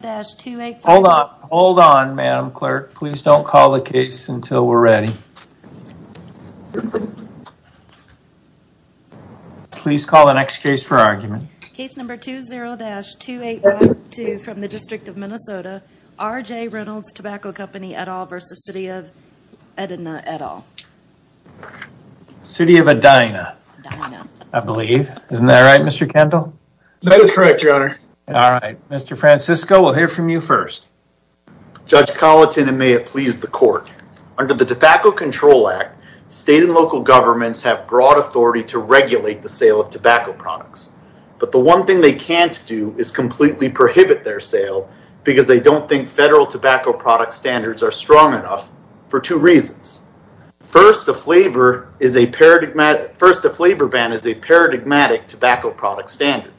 Hold on, hold on, Madam Clerk. Please don't call the case until we're ready. Please call the next case for argument. Case number 20-2852 from the District of Minnesota, R.J. Reynolds Tobacco Company, et al. v. City of Edina, et al. City of Edina, I believe. Isn't that right, Mr. Kendall? That is correct, Your Honor. All right, Mr. Francisco, we'll hear from you first. Judge Colleton, and may it please the court, under the Tobacco Control Act, state and local governments have broad authority to regulate the sale of tobacco products. But the one thing they can't do is completely prohibit their sale because they don't think federal tobacco product standards are strong enough for two reasons. First, a flavor ban is a paradigmatic tobacco product standard.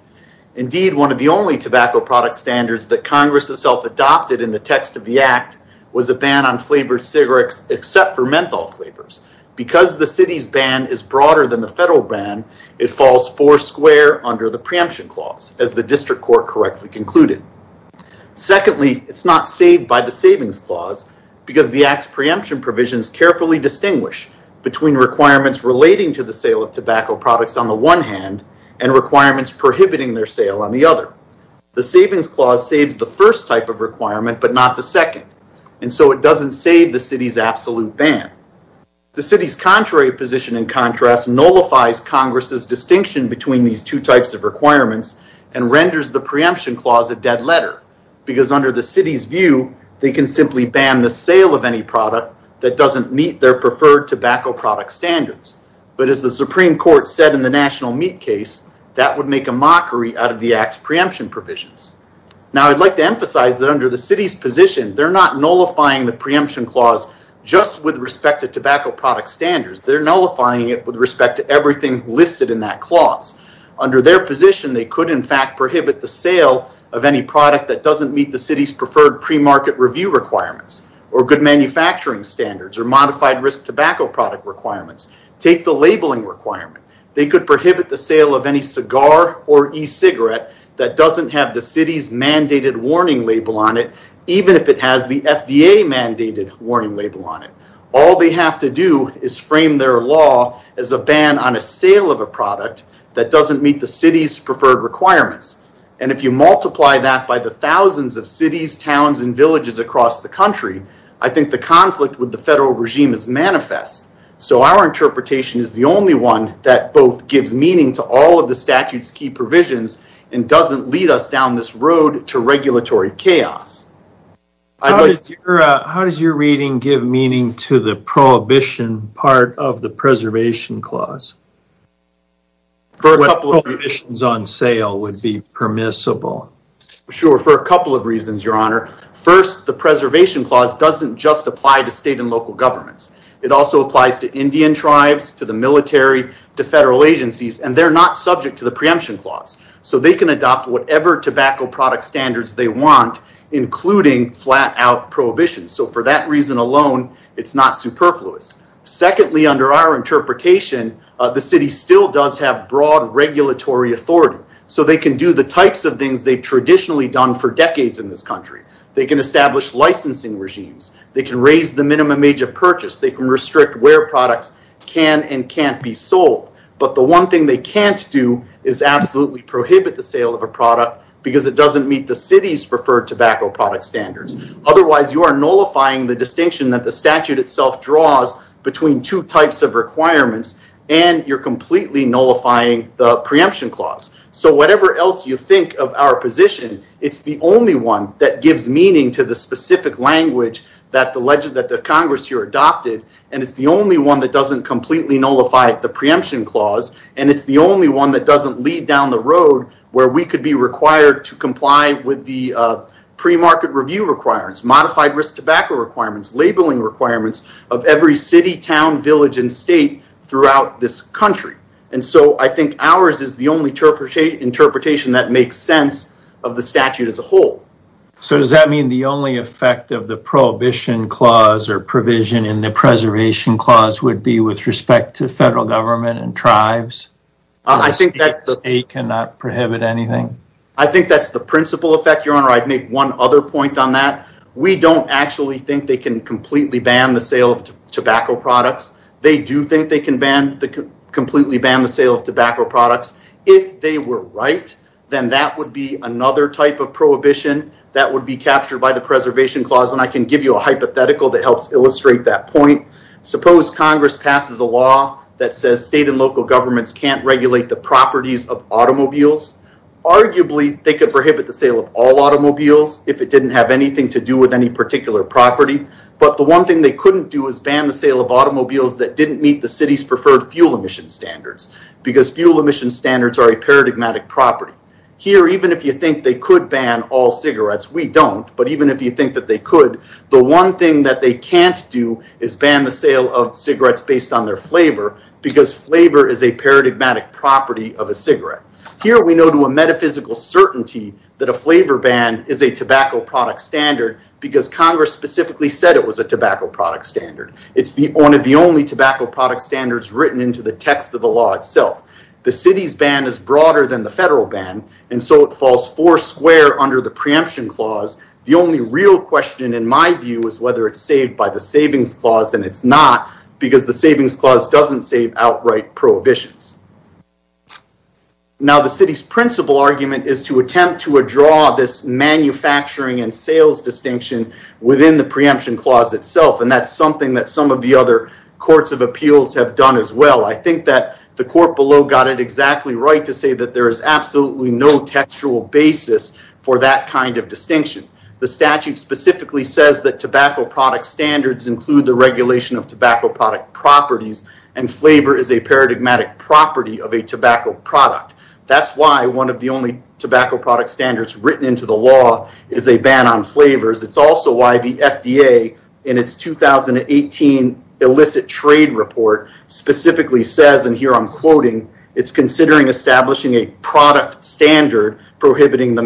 Indeed, one of the only standards that Congress itself adopted in the text of the act was a ban on flavored cigarettes except for menthol flavors. Because the city's ban is broader than the federal ban, it falls four square under the preemption clause, as the district court correctly concluded. Secondly, it's not saved by the savings clause because the act's preemption provisions carefully distinguish between requirements relating to the sale of tobacco products on the one hand and requirements prohibiting their sale on the other. The savings clause saves the first type of requirement but not the second, and so it doesn't save the city's absolute ban. The city's contrary position, in contrast, nullifies Congress's distinction between these two types of requirements and renders the preemption clause a dead letter because under the city's view, they can simply ban the sale of any product that doesn't meet their preferred product standards. But as the Supreme Court said in the national meat case, that would make a mockery out of the act's preemption provisions. Now, I'd like to emphasize that under the city's position, they're not nullifying the preemption clause just with respect to tobacco product standards. They're nullifying it with respect to everything listed in that clause. Under their position, they could, in fact, prohibit the sale of any product that doesn't meet the city's preferred premarket review requirements or good manufacturing standards or modified risk tobacco product requirements. Take the labeling requirement. They could prohibit the sale of any cigar or e-cigarette that doesn't have the city's mandated warning label on it, even if it has the FDA mandated warning label on it. All they have to do is frame their law as a ban on a sale of a product that doesn't meet the city's preferred requirements. And if you multiply that by the thousands of cities, towns, and villages across the country, I think the conflict with the federal regime is manifest. So our interpretation is the only one that both gives meaning to all of the statute's key provisions and doesn't lead us down this road to regulatory chaos. How does your reading give meaning to the prohibition part of the preservation clause? What prohibitions on sale would be permissible? Sure. For a couple of reasons, your honor. First, the preservation clause doesn't just apply to state and local governments. It also applies to Indian tribes, to the military, to federal agencies, and they're not subject to the preemption clause. So they can adopt whatever tobacco product standards they want, including flat out prohibition. So for that reason alone, it's not superfluous. Secondly, under our interpretation, the city still does have broad regulatory authority. So they can do the types of things they've traditionally done for decades in this country. They can establish licensing regimes. They can raise the minimum age of purchase. They can restrict where products can and can't be sold. But the one thing they can't do is absolutely prohibit the sale of a product because it doesn't meet the city's preferred tobacco product standards. Otherwise, you are nullifying the distinction that the statute itself draws between two types of requirements, and you're completely nullifying the preemption clause. So whatever else you think of our position, it's the only one that gives meaning to the specific language that the Congress here adopted, and it's the only one that doesn't completely nullify the preemption clause, and it's the only one that doesn't lead down the road where we could be required to comply with the premarket review requirements, modified risk tobacco requirements, labeling requirements of every city, town, village, and state throughout this country. And so I think ours is the only interpretation that makes sense of the statute as a whole. So does that mean the only effect of the prohibition clause or provision in the preservation clause would be with respect to federal government and tribes? The state cannot prohibit anything? I think that's the principal effect, Your Honor. I'd make one other point on that. We don't actually think they can completely ban the sale of tobacco products. They do think they can completely ban the sale of tobacco products. If they were right, then that would be another type of prohibition that would be captured by the preservation clause, and I can give you a hypothetical that helps illustrate that point. Suppose Congress passes a law that says state and local governments can't regulate the properties of automobiles. Arguably, they could prohibit the sale of all automobiles if it didn't have anything to do with any particular property, but the one thing they couldn't do is ban the sale of automobiles that didn't meet the city's preferred fuel emission standards because fuel emission standards are a paradigmatic property. Here, even if you think they could ban all cigarettes, we don't, but even if you think that they could, the one thing that they can't do is ban the sale of cigarettes based on their flavor because flavor is a paradigmatic property of a cigarette. Here, we know to a metaphysical certainty that a flavor ban is a tobacco product standard because Congress specifically said it was a tobacco product standard. It's one of the only tobacco product standards written into the text of the law itself. The city's ban is broader than the federal ban, and so it falls four square under the preemption clause. The only real question, in my view, is whether it's saved by the savings clause, and it's not because the savings clause doesn't save outright prohibitions. Now, the city's principal argument is to attempt to draw this manufacturing and sales distinction within the preemption clause itself, and that's something that some of the other courts of appeals have done as well. I think that the court below got it exactly right to say that there is absolutely no textual basis for that kind of distinction. The statute specifically says that tobacco product standards include the regulation of tobacco product properties, and flavor is a paradigmatic property of a tobacco product. That's why one of the only tobacco product standards written into the law is a ban on flavors. It's also why the FDA, in its 2018 illicit trade report, specifically says, and here I'm quoting, it's considering establishing a product standard prohibiting the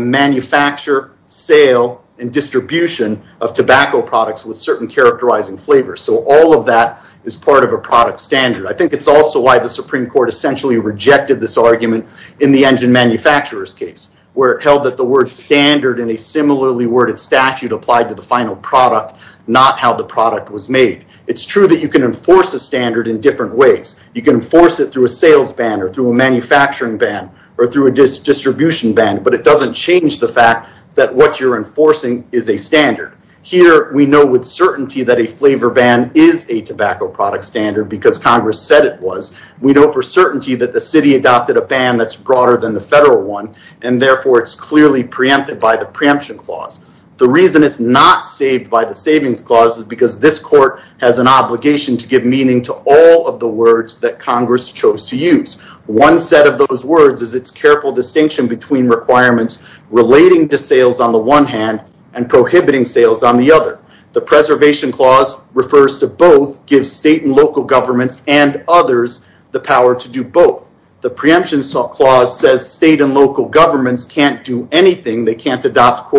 characterizing flavors, so all of that is part of a product standard. I think it's also why the Supreme Court essentially rejected this argument in the engine manufacturer's case, where it held that the word standard in a similarly worded statute applied to the final product, not how the product was made. It's true that you can enforce a standard in different ways. You can enforce it through a sales ban or through a manufacturing ban or through a distribution ban, but it doesn't change the fact that what you're enforcing is a standard. Here, we know with certainty that a flavor ban is a tobacco product standard because Congress said it was. We know for certainty that the city adopted a ban that's broader than the federal one, and therefore, it's clearly preempted by the preemption clause. The reason it's not saved by the savings clause is because this court has an obligation to give meaning to all of the words that Congress chose to use. One set of those words is its careful distinction between requirements relating to sales on the one hand and prohibiting sales on the other. The preservation clause refers to both, gives state and local governments and others the power to do both. The preemption clause says state and local governments can't do anything. They can't adopt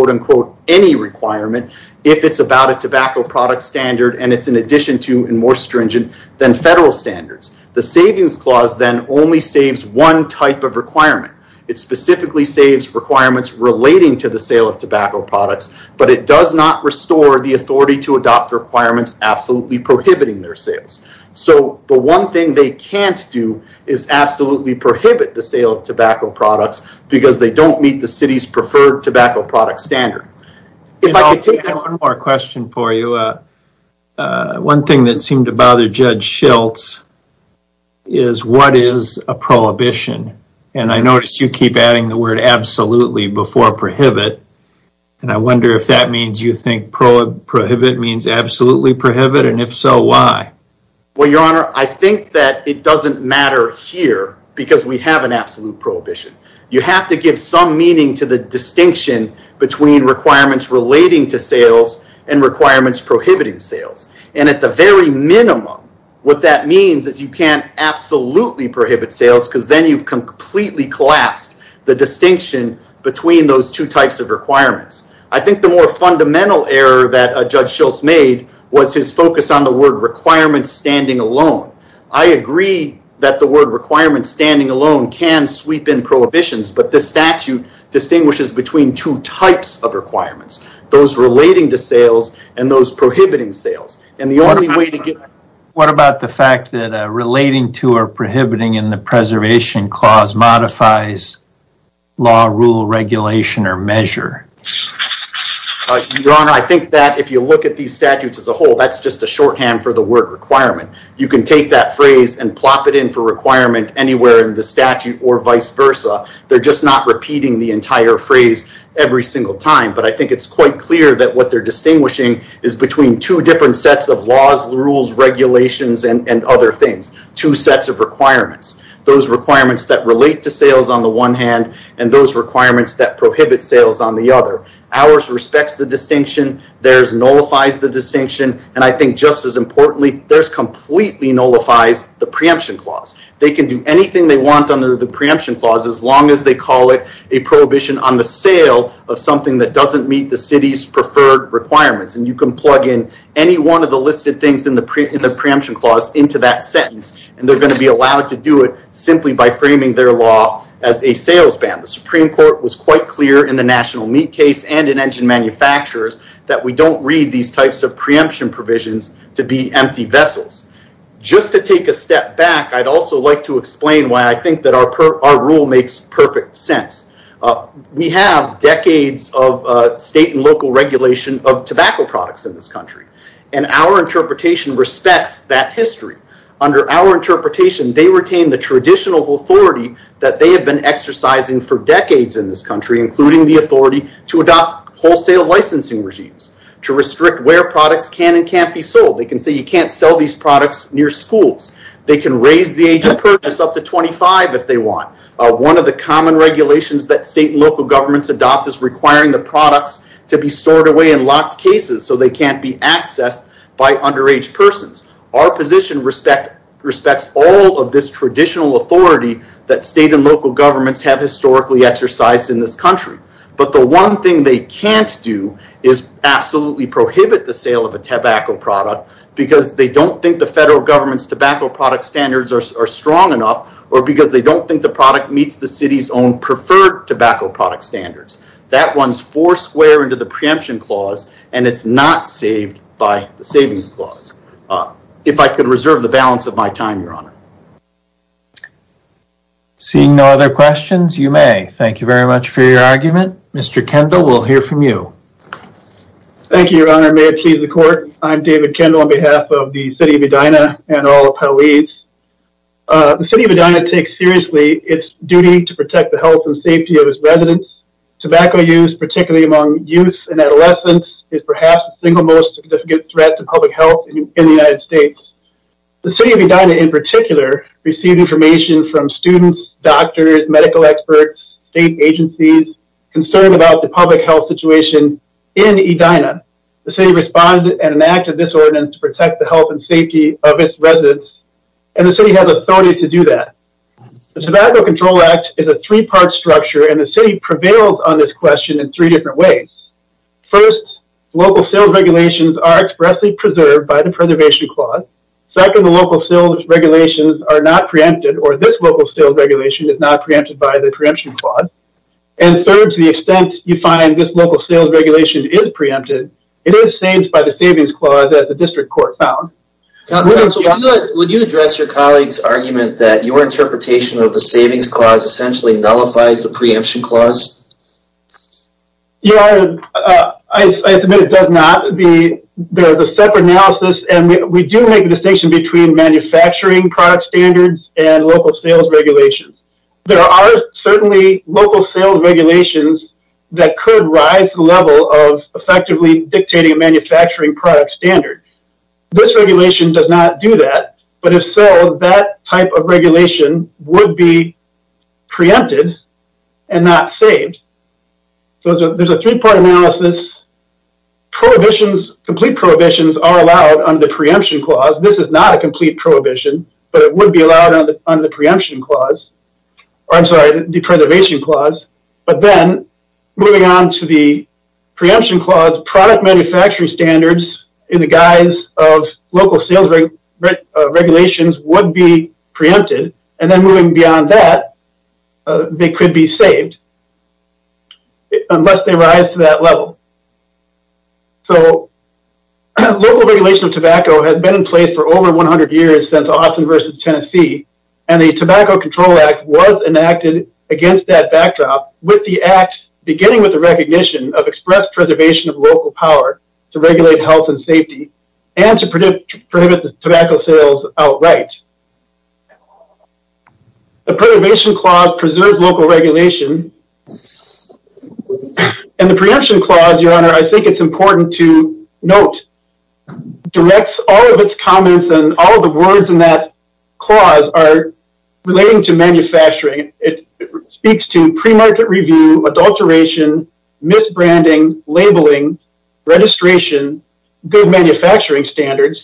any requirement if it's about a tobacco product standard, and it's in addition to and more stringent than federal standards. The savings clause then only saves one type of requirement. It specifically saves requirements relating to the sale of tobacco products, but it does not restore the authority to adopt requirements absolutely prohibiting their sales. The one thing they can't do is absolutely prohibit the sale of tobacco products because they don't meet the city's preferred tobacco product standard. I have one more question for you. One thing that seemed to bother Judge Schiltz is what is a prohibition? I noticed you keep adding the word absolutely before prohibit, and I wonder if that means you think prohibit means absolutely prohibit, and if so, why? Well, Your Honor, I think that it doesn't matter here because we have an absolute prohibition. You have to give some meaning to the distinction between requirements relating to sales and minimum. What that means is you can't absolutely prohibit sales because then you've completely collapsed the distinction between those two types of requirements. I think the more fundamental error that Judge Schiltz made was his focus on the word requirements standing alone. I agree that the word requirements standing alone can sweep in prohibitions, but the statute distinguishes between two types of requirements, those relating to sales and those prohibiting sales. Your Honor, what about the fact that relating to or prohibiting in the preservation clause modifies law, rule, regulation, or measure? Your Honor, I think that if you look at these statutes as a whole, that's just a shorthand for the word requirement. You can take that phrase and plop it in for requirement anywhere in the statute or vice versa. They're just not repeating the entire phrase every single time, but I think it's quite clear that what they're distinguishing is between two different sets of laws, rules, regulations, and other things, two sets of requirements, those requirements that relate to sales on the one hand and those requirements that prohibit sales on the other. Ours respects the distinction, theirs nullifies the distinction, and I think just as importantly, theirs completely nullifies the preemption clause. They can do anything they want under the preemption clause as long as they call it a prohibition on the sale of something that doesn't meet the city's preferred requirements. You can plug in any one of the listed things in the preemption clause into that sentence, and they're going to be allowed to do it simply by framing their law as a sales ban. The Supreme Court was quite clear in the national meat case and in engine manufacturers that we don't read these types of preemption provisions to be empty vessels. Just to take a step back, I'd also like to explain why I think that our rule makes perfect sense. We have decades of state and local regulation of tobacco products in this country, and our interpretation respects that history. Under our interpretation, they retain the traditional authority that they have been exercising for decades in this country, including the authority to adopt wholesale licensing regimes to restrict where products can and can't be sold. They can say you can't sell these products near schools. They can raise the age of purchase up to 25 if they want. One of the common regulations that state and local governments adopt is requiring the products to be stored away in locked cases so they can't be accessed by underage persons. Our position respects all of this traditional authority that state and local governments have historically exercised in this country. The one thing they can't do is absolutely prohibit the sale of a tobacco product because they don't think the federal government's tobacco product standards are strong enough, or because they don't think the product meets the city's own preferred tobacco product standards. That runs four square into the preemption clause, and it's not saved by the savings clause. If I could reserve the balance of my time, your honor. Seeing no other questions, you may. Thank you very much for your argument. Mr. Kendall, we'll hear from you. Thank you, your honor. May it please the court. I'm David Kendall on behalf of the city of Edina. The city of Edina takes seriously its duty to protect the health and safety of its residents. Tobacco use, particularly among youth and adolescents, is perhaps the single most significant threat to public health in the United States. The city of Edina, in particular, received information from students, doctors, medical experts, state agencies concerned about the public health situation in Edina. The city responded and the Tobacco Control Act is a three-part structure, and the city prevails on this question in three different ways. First, local sales regulations are expressly preserved by the preservation clause. Second, the local sales regulations are not preempted, or this local sales regulation is not preempted by the preemption clause. And third, to the extent you find this local sales regulation is preempted, it is saved by the savings clause as the district court found. Counsel, would you address your colleague's argument that your interpretation of the savings clause essentially nullifies the preemption clause? Yeah, I submit it does not. There's a separate analysis, and we do make a distinction between manufacturing product standards and local sales regulations. There are certainly local sales regulations that could rise to the level of effectively dictating a manufacturing product standard. This regulation does not do that, but if so, that type of regulation would be preempted and not saved. So there's a three-part analysis. Prohibitions, complete prohibitions are allowed under the preemption clause. This is not a complete prohibition, but it would be allowed under the preservation clause. But then moving on to the preemption clause, product manufacturing standards in the guise of local sales regulations would be preempted, and then moving beyond that, they could be saved unless they rise to that level. So local regulation of tobacco has been in place for over 100 years since Austin versus Tennessee, and the Tobacco Control Act was enacted against that backdrop with the act beginning with the recognition of express preservation of local power to regulate health and safety and to prohibit the tobacco sales outright. The preservation clause preserves local regulation, and the preemption clause, your honor, I think it's important to note directs all of its comments and all the words in that clause are relating to manufacturing. It speaks to pre-market review, adulteration, misbranding, labeling, registration, good manufacturing standards,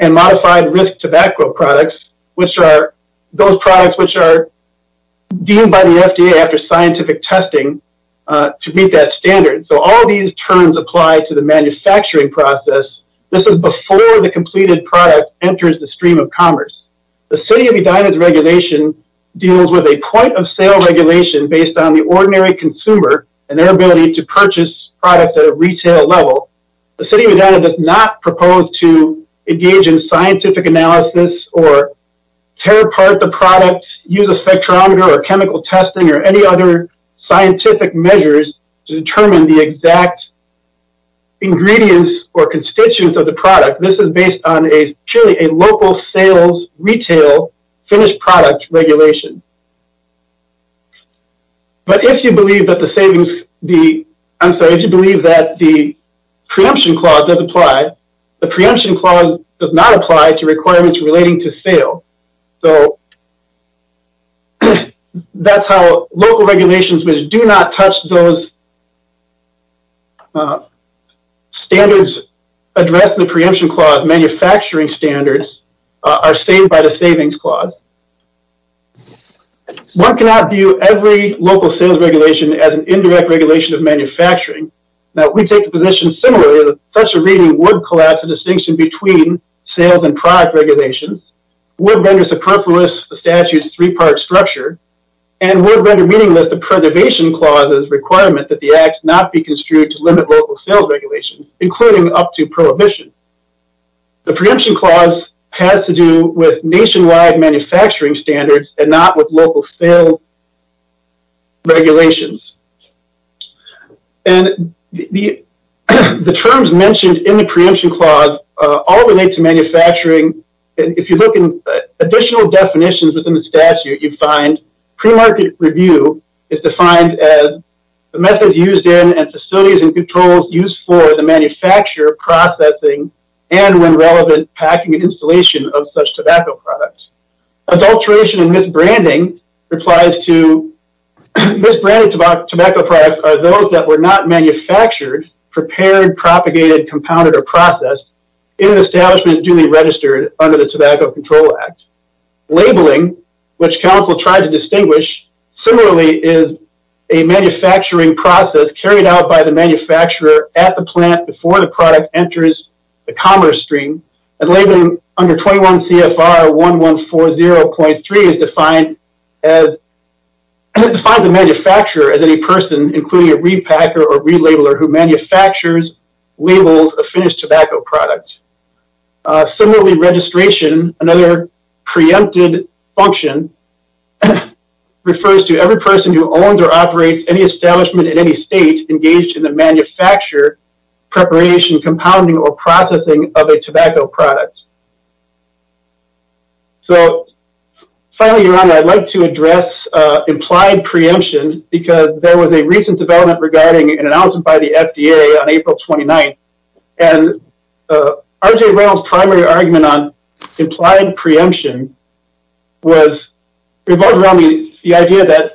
and modified risk tobacco products, which are those products which are deemed by the FDA after scientific testing to meet that standard. So all of these terms apply to the manufacturing process. This is before the completed product enters the stream of commerce. The city of Edina's regulation deals with a point of sale regulation based on the ordinary consumer and their ability to purchase products at a retail level. The city of Edina does not propose to engage in scientific analysis or tear apart the product, use a spectrometer or chemical testing or any other scientific measures to determine the exact ingredients or constituents of the product. This is based on a purely a local retail finished product regulation. But if you believe that the savings, I'm sorry, if you believe that the preemption clause does apply, the preemption clause does not apply to requirements relating to sale. So that's how local regulations which do not touch those standards address the are saved by the savings clause. One cannot view every local sales regulation as an indirect regulation of manufacturing. Now we take the position similarly that such a reading would collapse the distinction between sales and product regulations, would render superfluous the statute's three-part structure, and would render meaningless the preservation clause's requirement that the acts not be construed to limit local sales regulations, including up to prohibition. The preemption clause has to do with nationwide manufacturing standards and not with local sale regulations. And the terms mentioned in the preemption clause all relate to manufacturing. If you look in additional definitions within the statute, you find pre-market review is defined as methods used in and facilities and controls used for the manufacturer processing and when relevant packing and installation of such tobacco products. Adulteration and misbranding applies to misbranded tobacco products are those that were not manufactured, prepared, propagated, compounded, or processed in establishments duly registered under the Tobacco Control Act. Labeling, which counsel tried to distinguish, similarly is a manufacturing process carried out by the manufacturer at the plant before the product enters the commerce stream. And labeling under 21 CFR 1140.3 is defined as, and it defines the manufacturer as any person including a repacker or relabeler who manufactures, labels, a finished tobacco product. Similarly registration, another preempted function, refers to every person who owns or operates any establishment in any state engaged in the manufacture, preparation, compounding, or processing of a tobacco product. So finally, Your Honor, I'd like to address implied preemption because there was a recent development regarding an announcement by the FDA on April 29th. R.J. Reynolds' primary argument on implied preemption revolved around the idea that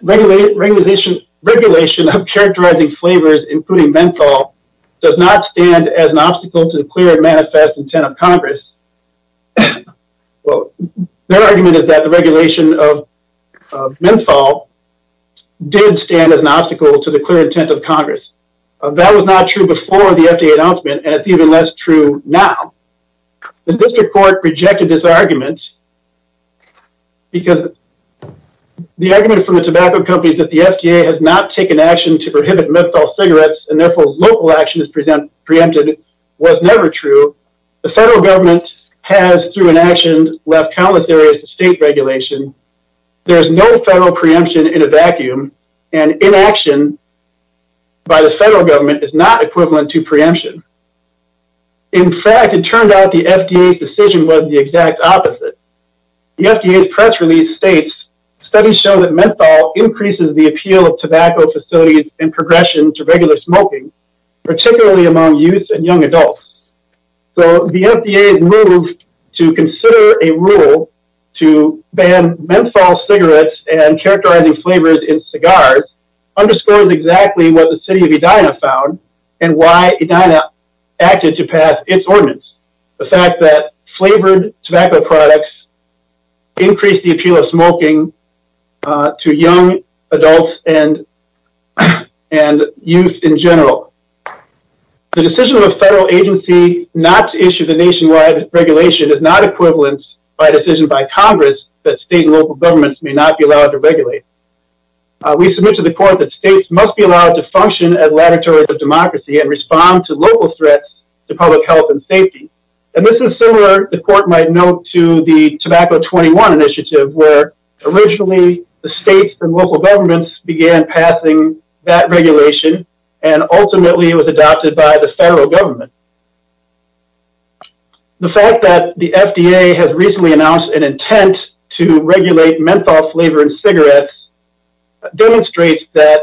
regulation of characterizing flavors including menthol does not stand as an obstacle to the clear and manifest intent of Congress. Their argument is that the regulation of menthol did stand as an obstacle to the clear intent of Congress. That was not true before the FDA announcement and it's even less true now. The district court rejected this argument because the argument from the tobacco companies that the FDA has not taken action to prohibit menthol cigarettes and therefore local action is preempted was never true. The federal government has, through inaction, left countless areas to state regulation. There is no federal preemption in a vacuum and inaction by the federal government is not equivalent to preemption. In fact, it turned out the FDA's decision was the exact opposite. The FDA's press release states studies show that menthol increases the appeal of tobacco facilities and progression to regular smoking, particularly among youth and young adults. So the FDA's move to consider a rule to ban menthol cigarettes and characterizing flavors in cigars underscores exactly what the city of Edina found and why Edina acted to pass its ordinance. The fact that flavored tobacco products increase the appeal of smoking to young adults and youth in general. The decision of a federal agency not to issue the nationwide regulation is not equivalent by a decision by Congress that state and local governments may not be allowed to regulate. We submit to the court that states must be allowed to function as laboratories of democracy and respond to local threats to public health and safety. And this is similar, the court might note, to the tobacco 21 initiative where originally the states and local governments began passing that regulation and ultimately it was adopted by the federal government. The fact that the FDA has recently announced an intent to regulate menthol flavor in cigarettes demonstrates that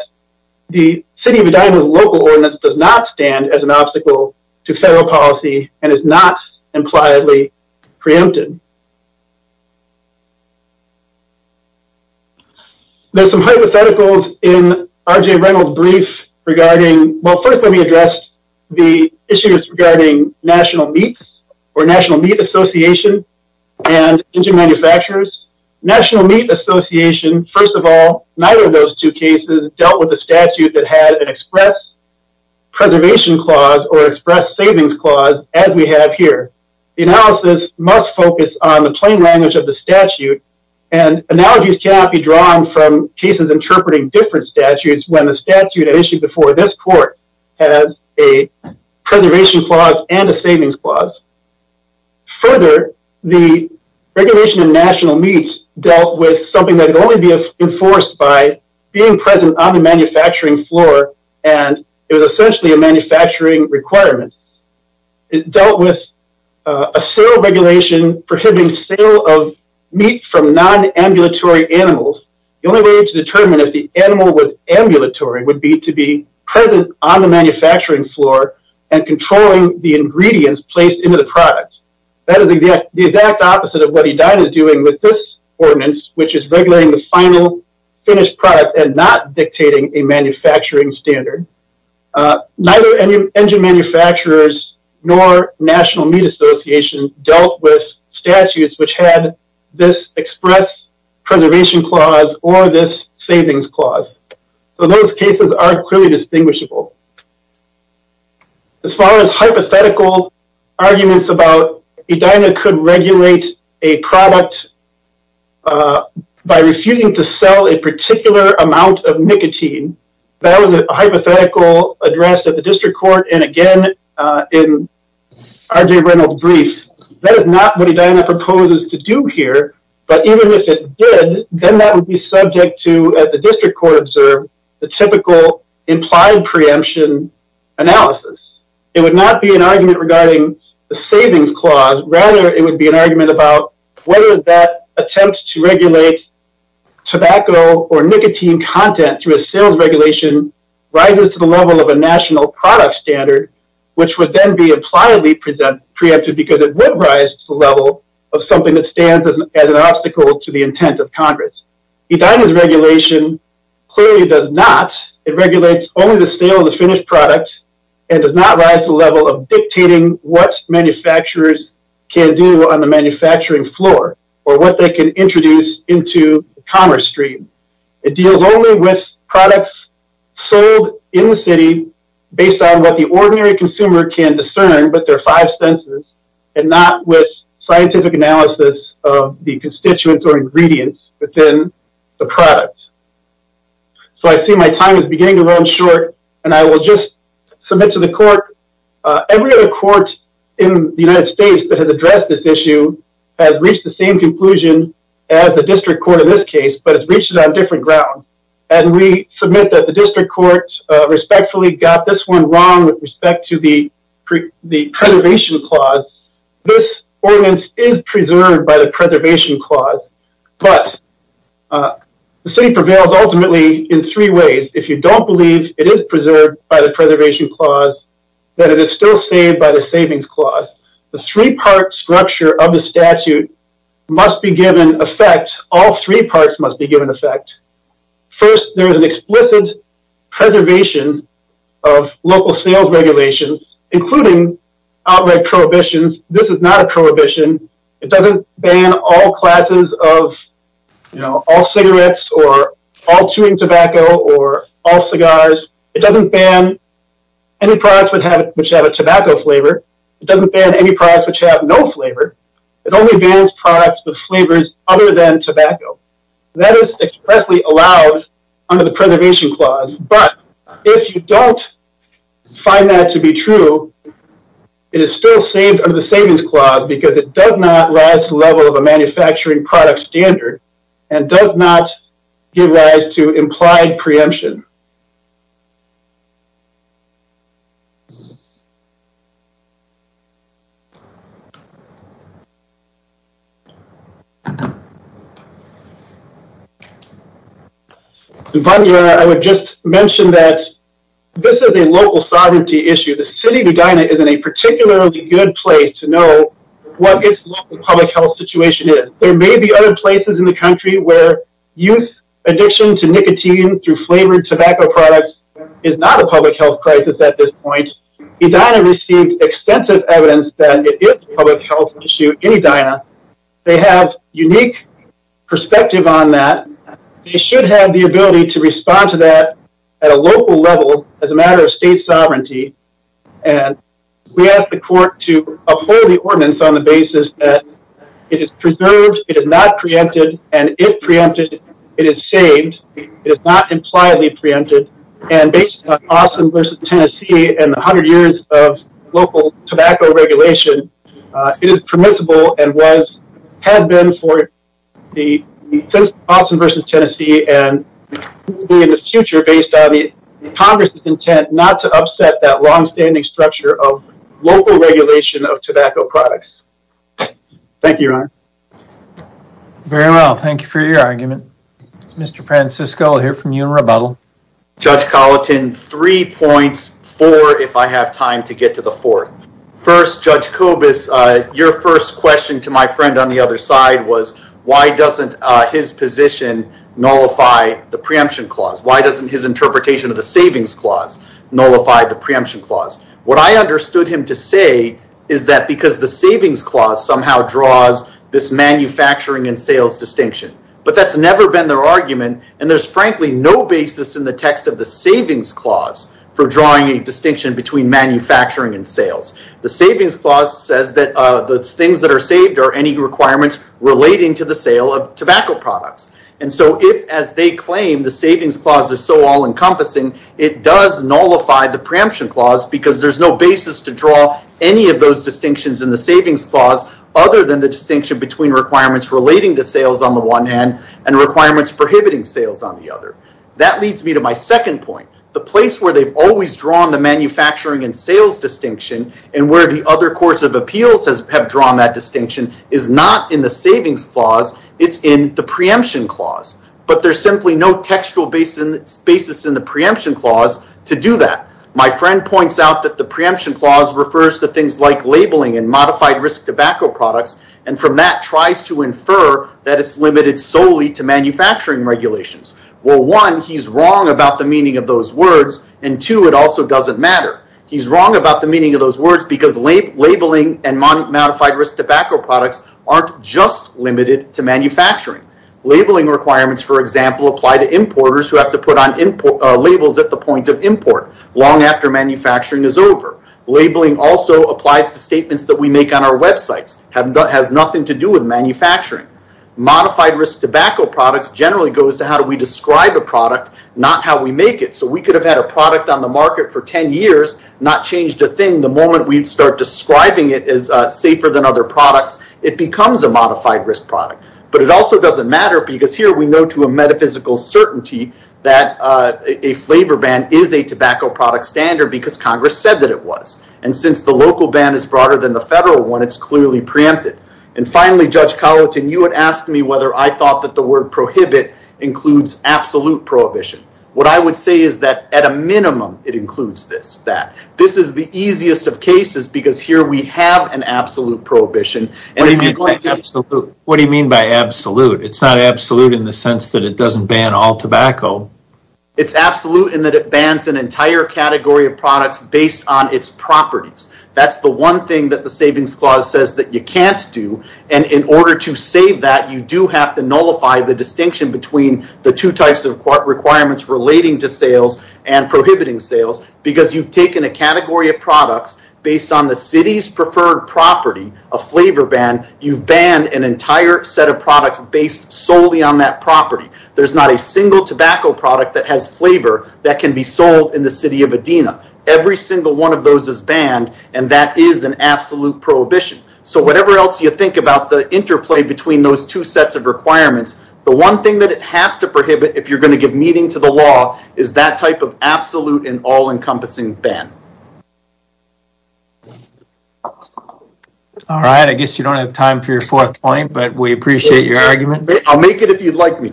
the city of Edina's local ordinance does not stand as an obstacle to federal policy and is not impliedly preempted. There's some hypotheticals in R.J. Reynolds' brief regarding, well first let me address the issues regarding National Meat Association and engine manufacturers. National Meat Association, first of all, neither of those two cases dealt with a statute that had an express preservation clause or express savings clause as we have here. The analysis must focus on the plain language of the statute and analogies cannot be drawn from cases interpreting different has a preservation clause and a savings clause. Further, the regulation of national meats dealt with something that could only be enforced by being present on the manufacturing floor and it was essentially a manufacturing requirement. It dealt with a sale regulation prohibiting sale of meat from non-ambulatory animals. The only way to determine if the animal was ambulatory would be to be present on the manufacturing floor and controlling the ingredients placed into the product. That is the exact opposite of what Edina is doing with this ordinance which is regulating the final finished product and not dictating a manufacturing standard. Neither engine manufacturers nor National Meat Association dealt with statutes which had this express preservation clause or this are clearly distinguishable. As far as hypothetical arguments about Edina could regulate a product by refusing to sell a particular amount of nicotine, that was a hypothetical address at the district court and again in RJ Reynolds' brief. That is not what Edina proposes to do here but even if it did, then that would be subject to, as the district court observed, the typical implied preemption analysis. It would not be an argument regarding the savings clause, rather it would be an argument about whether that attempt to regulate tobacco or nicotine content through a sales regulation rises to the level of a national product standard which would then be an obstacle to the intent of Congress. Edina's regulation clearly does not. It regulates only the sale of the finished product and does not rise to the level of dictating what manufacturers can do on the manufacturing floor or what they can introduce into the commerce stream. It deals only with products sold in the city based on what the ordinary consumer can discern but their five senses and not with scientific analysis of the constituents or ingredients within the product. So I see my time is beginning to run short and I will just submit to the court. Every other court in the United States that has addressed this issue has reached the same conclusion as the district court in this case but it's reached it on a different ground and we submit that the district court respectfully got this one wrong with respect to the preservation clause. This ordinance is preserved by the preservation clause but the city prevails ultimately in three ways. If you don't believe it is preserved by the preservation clause, then it is still saved by the savings clause. The three-part structure of the statute must be given effect. All three parts must be given effect. First there is an explicit preservation of local sales regulations including outright prohibitions. This is not a prohibition. It doesn't ban all classes of you know all cigarettes or all chewing tobacco or all cigars. It doesn't ban any products which have a tobacco flavor. It doesn't ban any products which have no flavor. It only bans products with flavors other than tobacco. That is expressly allowed under the preservation clause but if you don't find that to be true, it is still saved under the savings clause because it does not rise to the level of a manufacturing product standard and does not give rise to implied preemption. I would just mention that this is a local sovereignty issue. The city of Edina is in a particularly good place to know what its local public health situation is. There may be other places in the country where youth addiction to nicotine through flavored tobacco products is not a public health crisis at this point. Edina received extensive evidence that it is a public health issue in Edina. They have unique perspective on that. They should have the ability to respond to that at a local level as a matter of state sovereignty and we ask the court to uphold the ordinance on the basis that it is preserved. It is not preempted and if preempted it is saved. It is not impliedly preempted and based on Austin versus Tennessee and 100 years of local tobacco regulation, it is permissible and was had been for the Austin versus Tennessee and in the future based on the congress's intent not to upset that long-standing structure of local regulation of tobacco products. Thank you, your honor. Very well, thank you for your argument. Mr. Francisco, I will hear from you in rebuttal. Judge Colleton, three points, four if I have time to get to the fourth. First, Judge Kobus, your first question to my friend on the other side was why doesn't his position nullify the preemption clause? Why doesn't his interpretation of the savings clause nullify the preemption clause? What I understood him to say is that because the argument and there is frankly no basis in the text of the savings clause for drawing a distinction between manufacturing and sales. The savings clause says that the things that are saved are any requirements relating to the sale of tobacco products. If as they claim the savings clause is so all-encompassing, it does nullify the preemption clause because there is no basis to draw any of those distinctions in the savings clause other than the distinction between requirements relating to sales on the one hand and requirements prohibiting sales on the other. That leads me to my second point. The place where they've always drawn the manufacturing and sales distinction and where the other courts of appeals have drawn that distinction is not in the savings clause, it's in the preemption clause. There's simply no textual basis in the preemption clause to do that. My friend points out that the preemption clause refers to things like labeling and modified risk products and from that tries to infer that it's limited solely to manufacturing regulations. Well, one, he's wrong about the meaning of those words and two, it also doesn't matter. He's wrong about the meaning of those words because labeling and modified risk tobacco products aren't just limited to manufacturing. Labeling requirements, for example, apply to importers who have to put on labels at the point of import long after manufacturing is over. Labeling also applies to statements that we make on our websites, has nothing to do with manufacturing. Modified risk tobacco products generally goes to how do we describe a product, not how we make it. We could have had a product on the market for 10 years, not changed a thing. The moment we'd start describing it as safer than other products, it becomes a modified risk product. It also doesn't matter because here we know to a metaphysical certainty that a flavor ban is a tobacco product standard because Congress said that it was. And since the local ban is broader than the federal one, it's clearly preempted. And finally, Judge Colleton, you had asked me whether I thought that the word prohibit includes absolute prohibition. What I would say is that at a minimum, it includes this, that. This is the easiest of cases because here we have an absolute prohibition. What do you mean by absolute? It's not absolute in the sense that it doesn't ban all tobacco. It's absolute in that it bans an entire category of products based on its properties. That's the one thing that the Savings Clause says that you can't do. And in order to save that, you do have to nullify the distinction between the two types of requirements relating to sales and prohibiting sales because you've taken a category of products based on the city's preferred property, a flavor ban, you've banned an entire set of products based solely on that property. There's not a single tobacco product that has flavor that can be sold in the city of Adena. Every single one of those is banned, and that is an absolute prohibition. So whatever else you think about the interplay between those two sets of requirements, the one thing that it has to prohibit if you're going to give meaning to the law is that type of absolute and all-encompassing ban. All right, I guess you don't have time for your fourth point, but we appreciate your argument. I'll make it if you'd like me.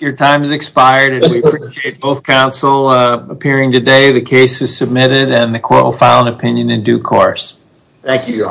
Your time has expired and we appreciate both counsel appearing today. The case is submitted and the court will file an opinion in due course. Thank you.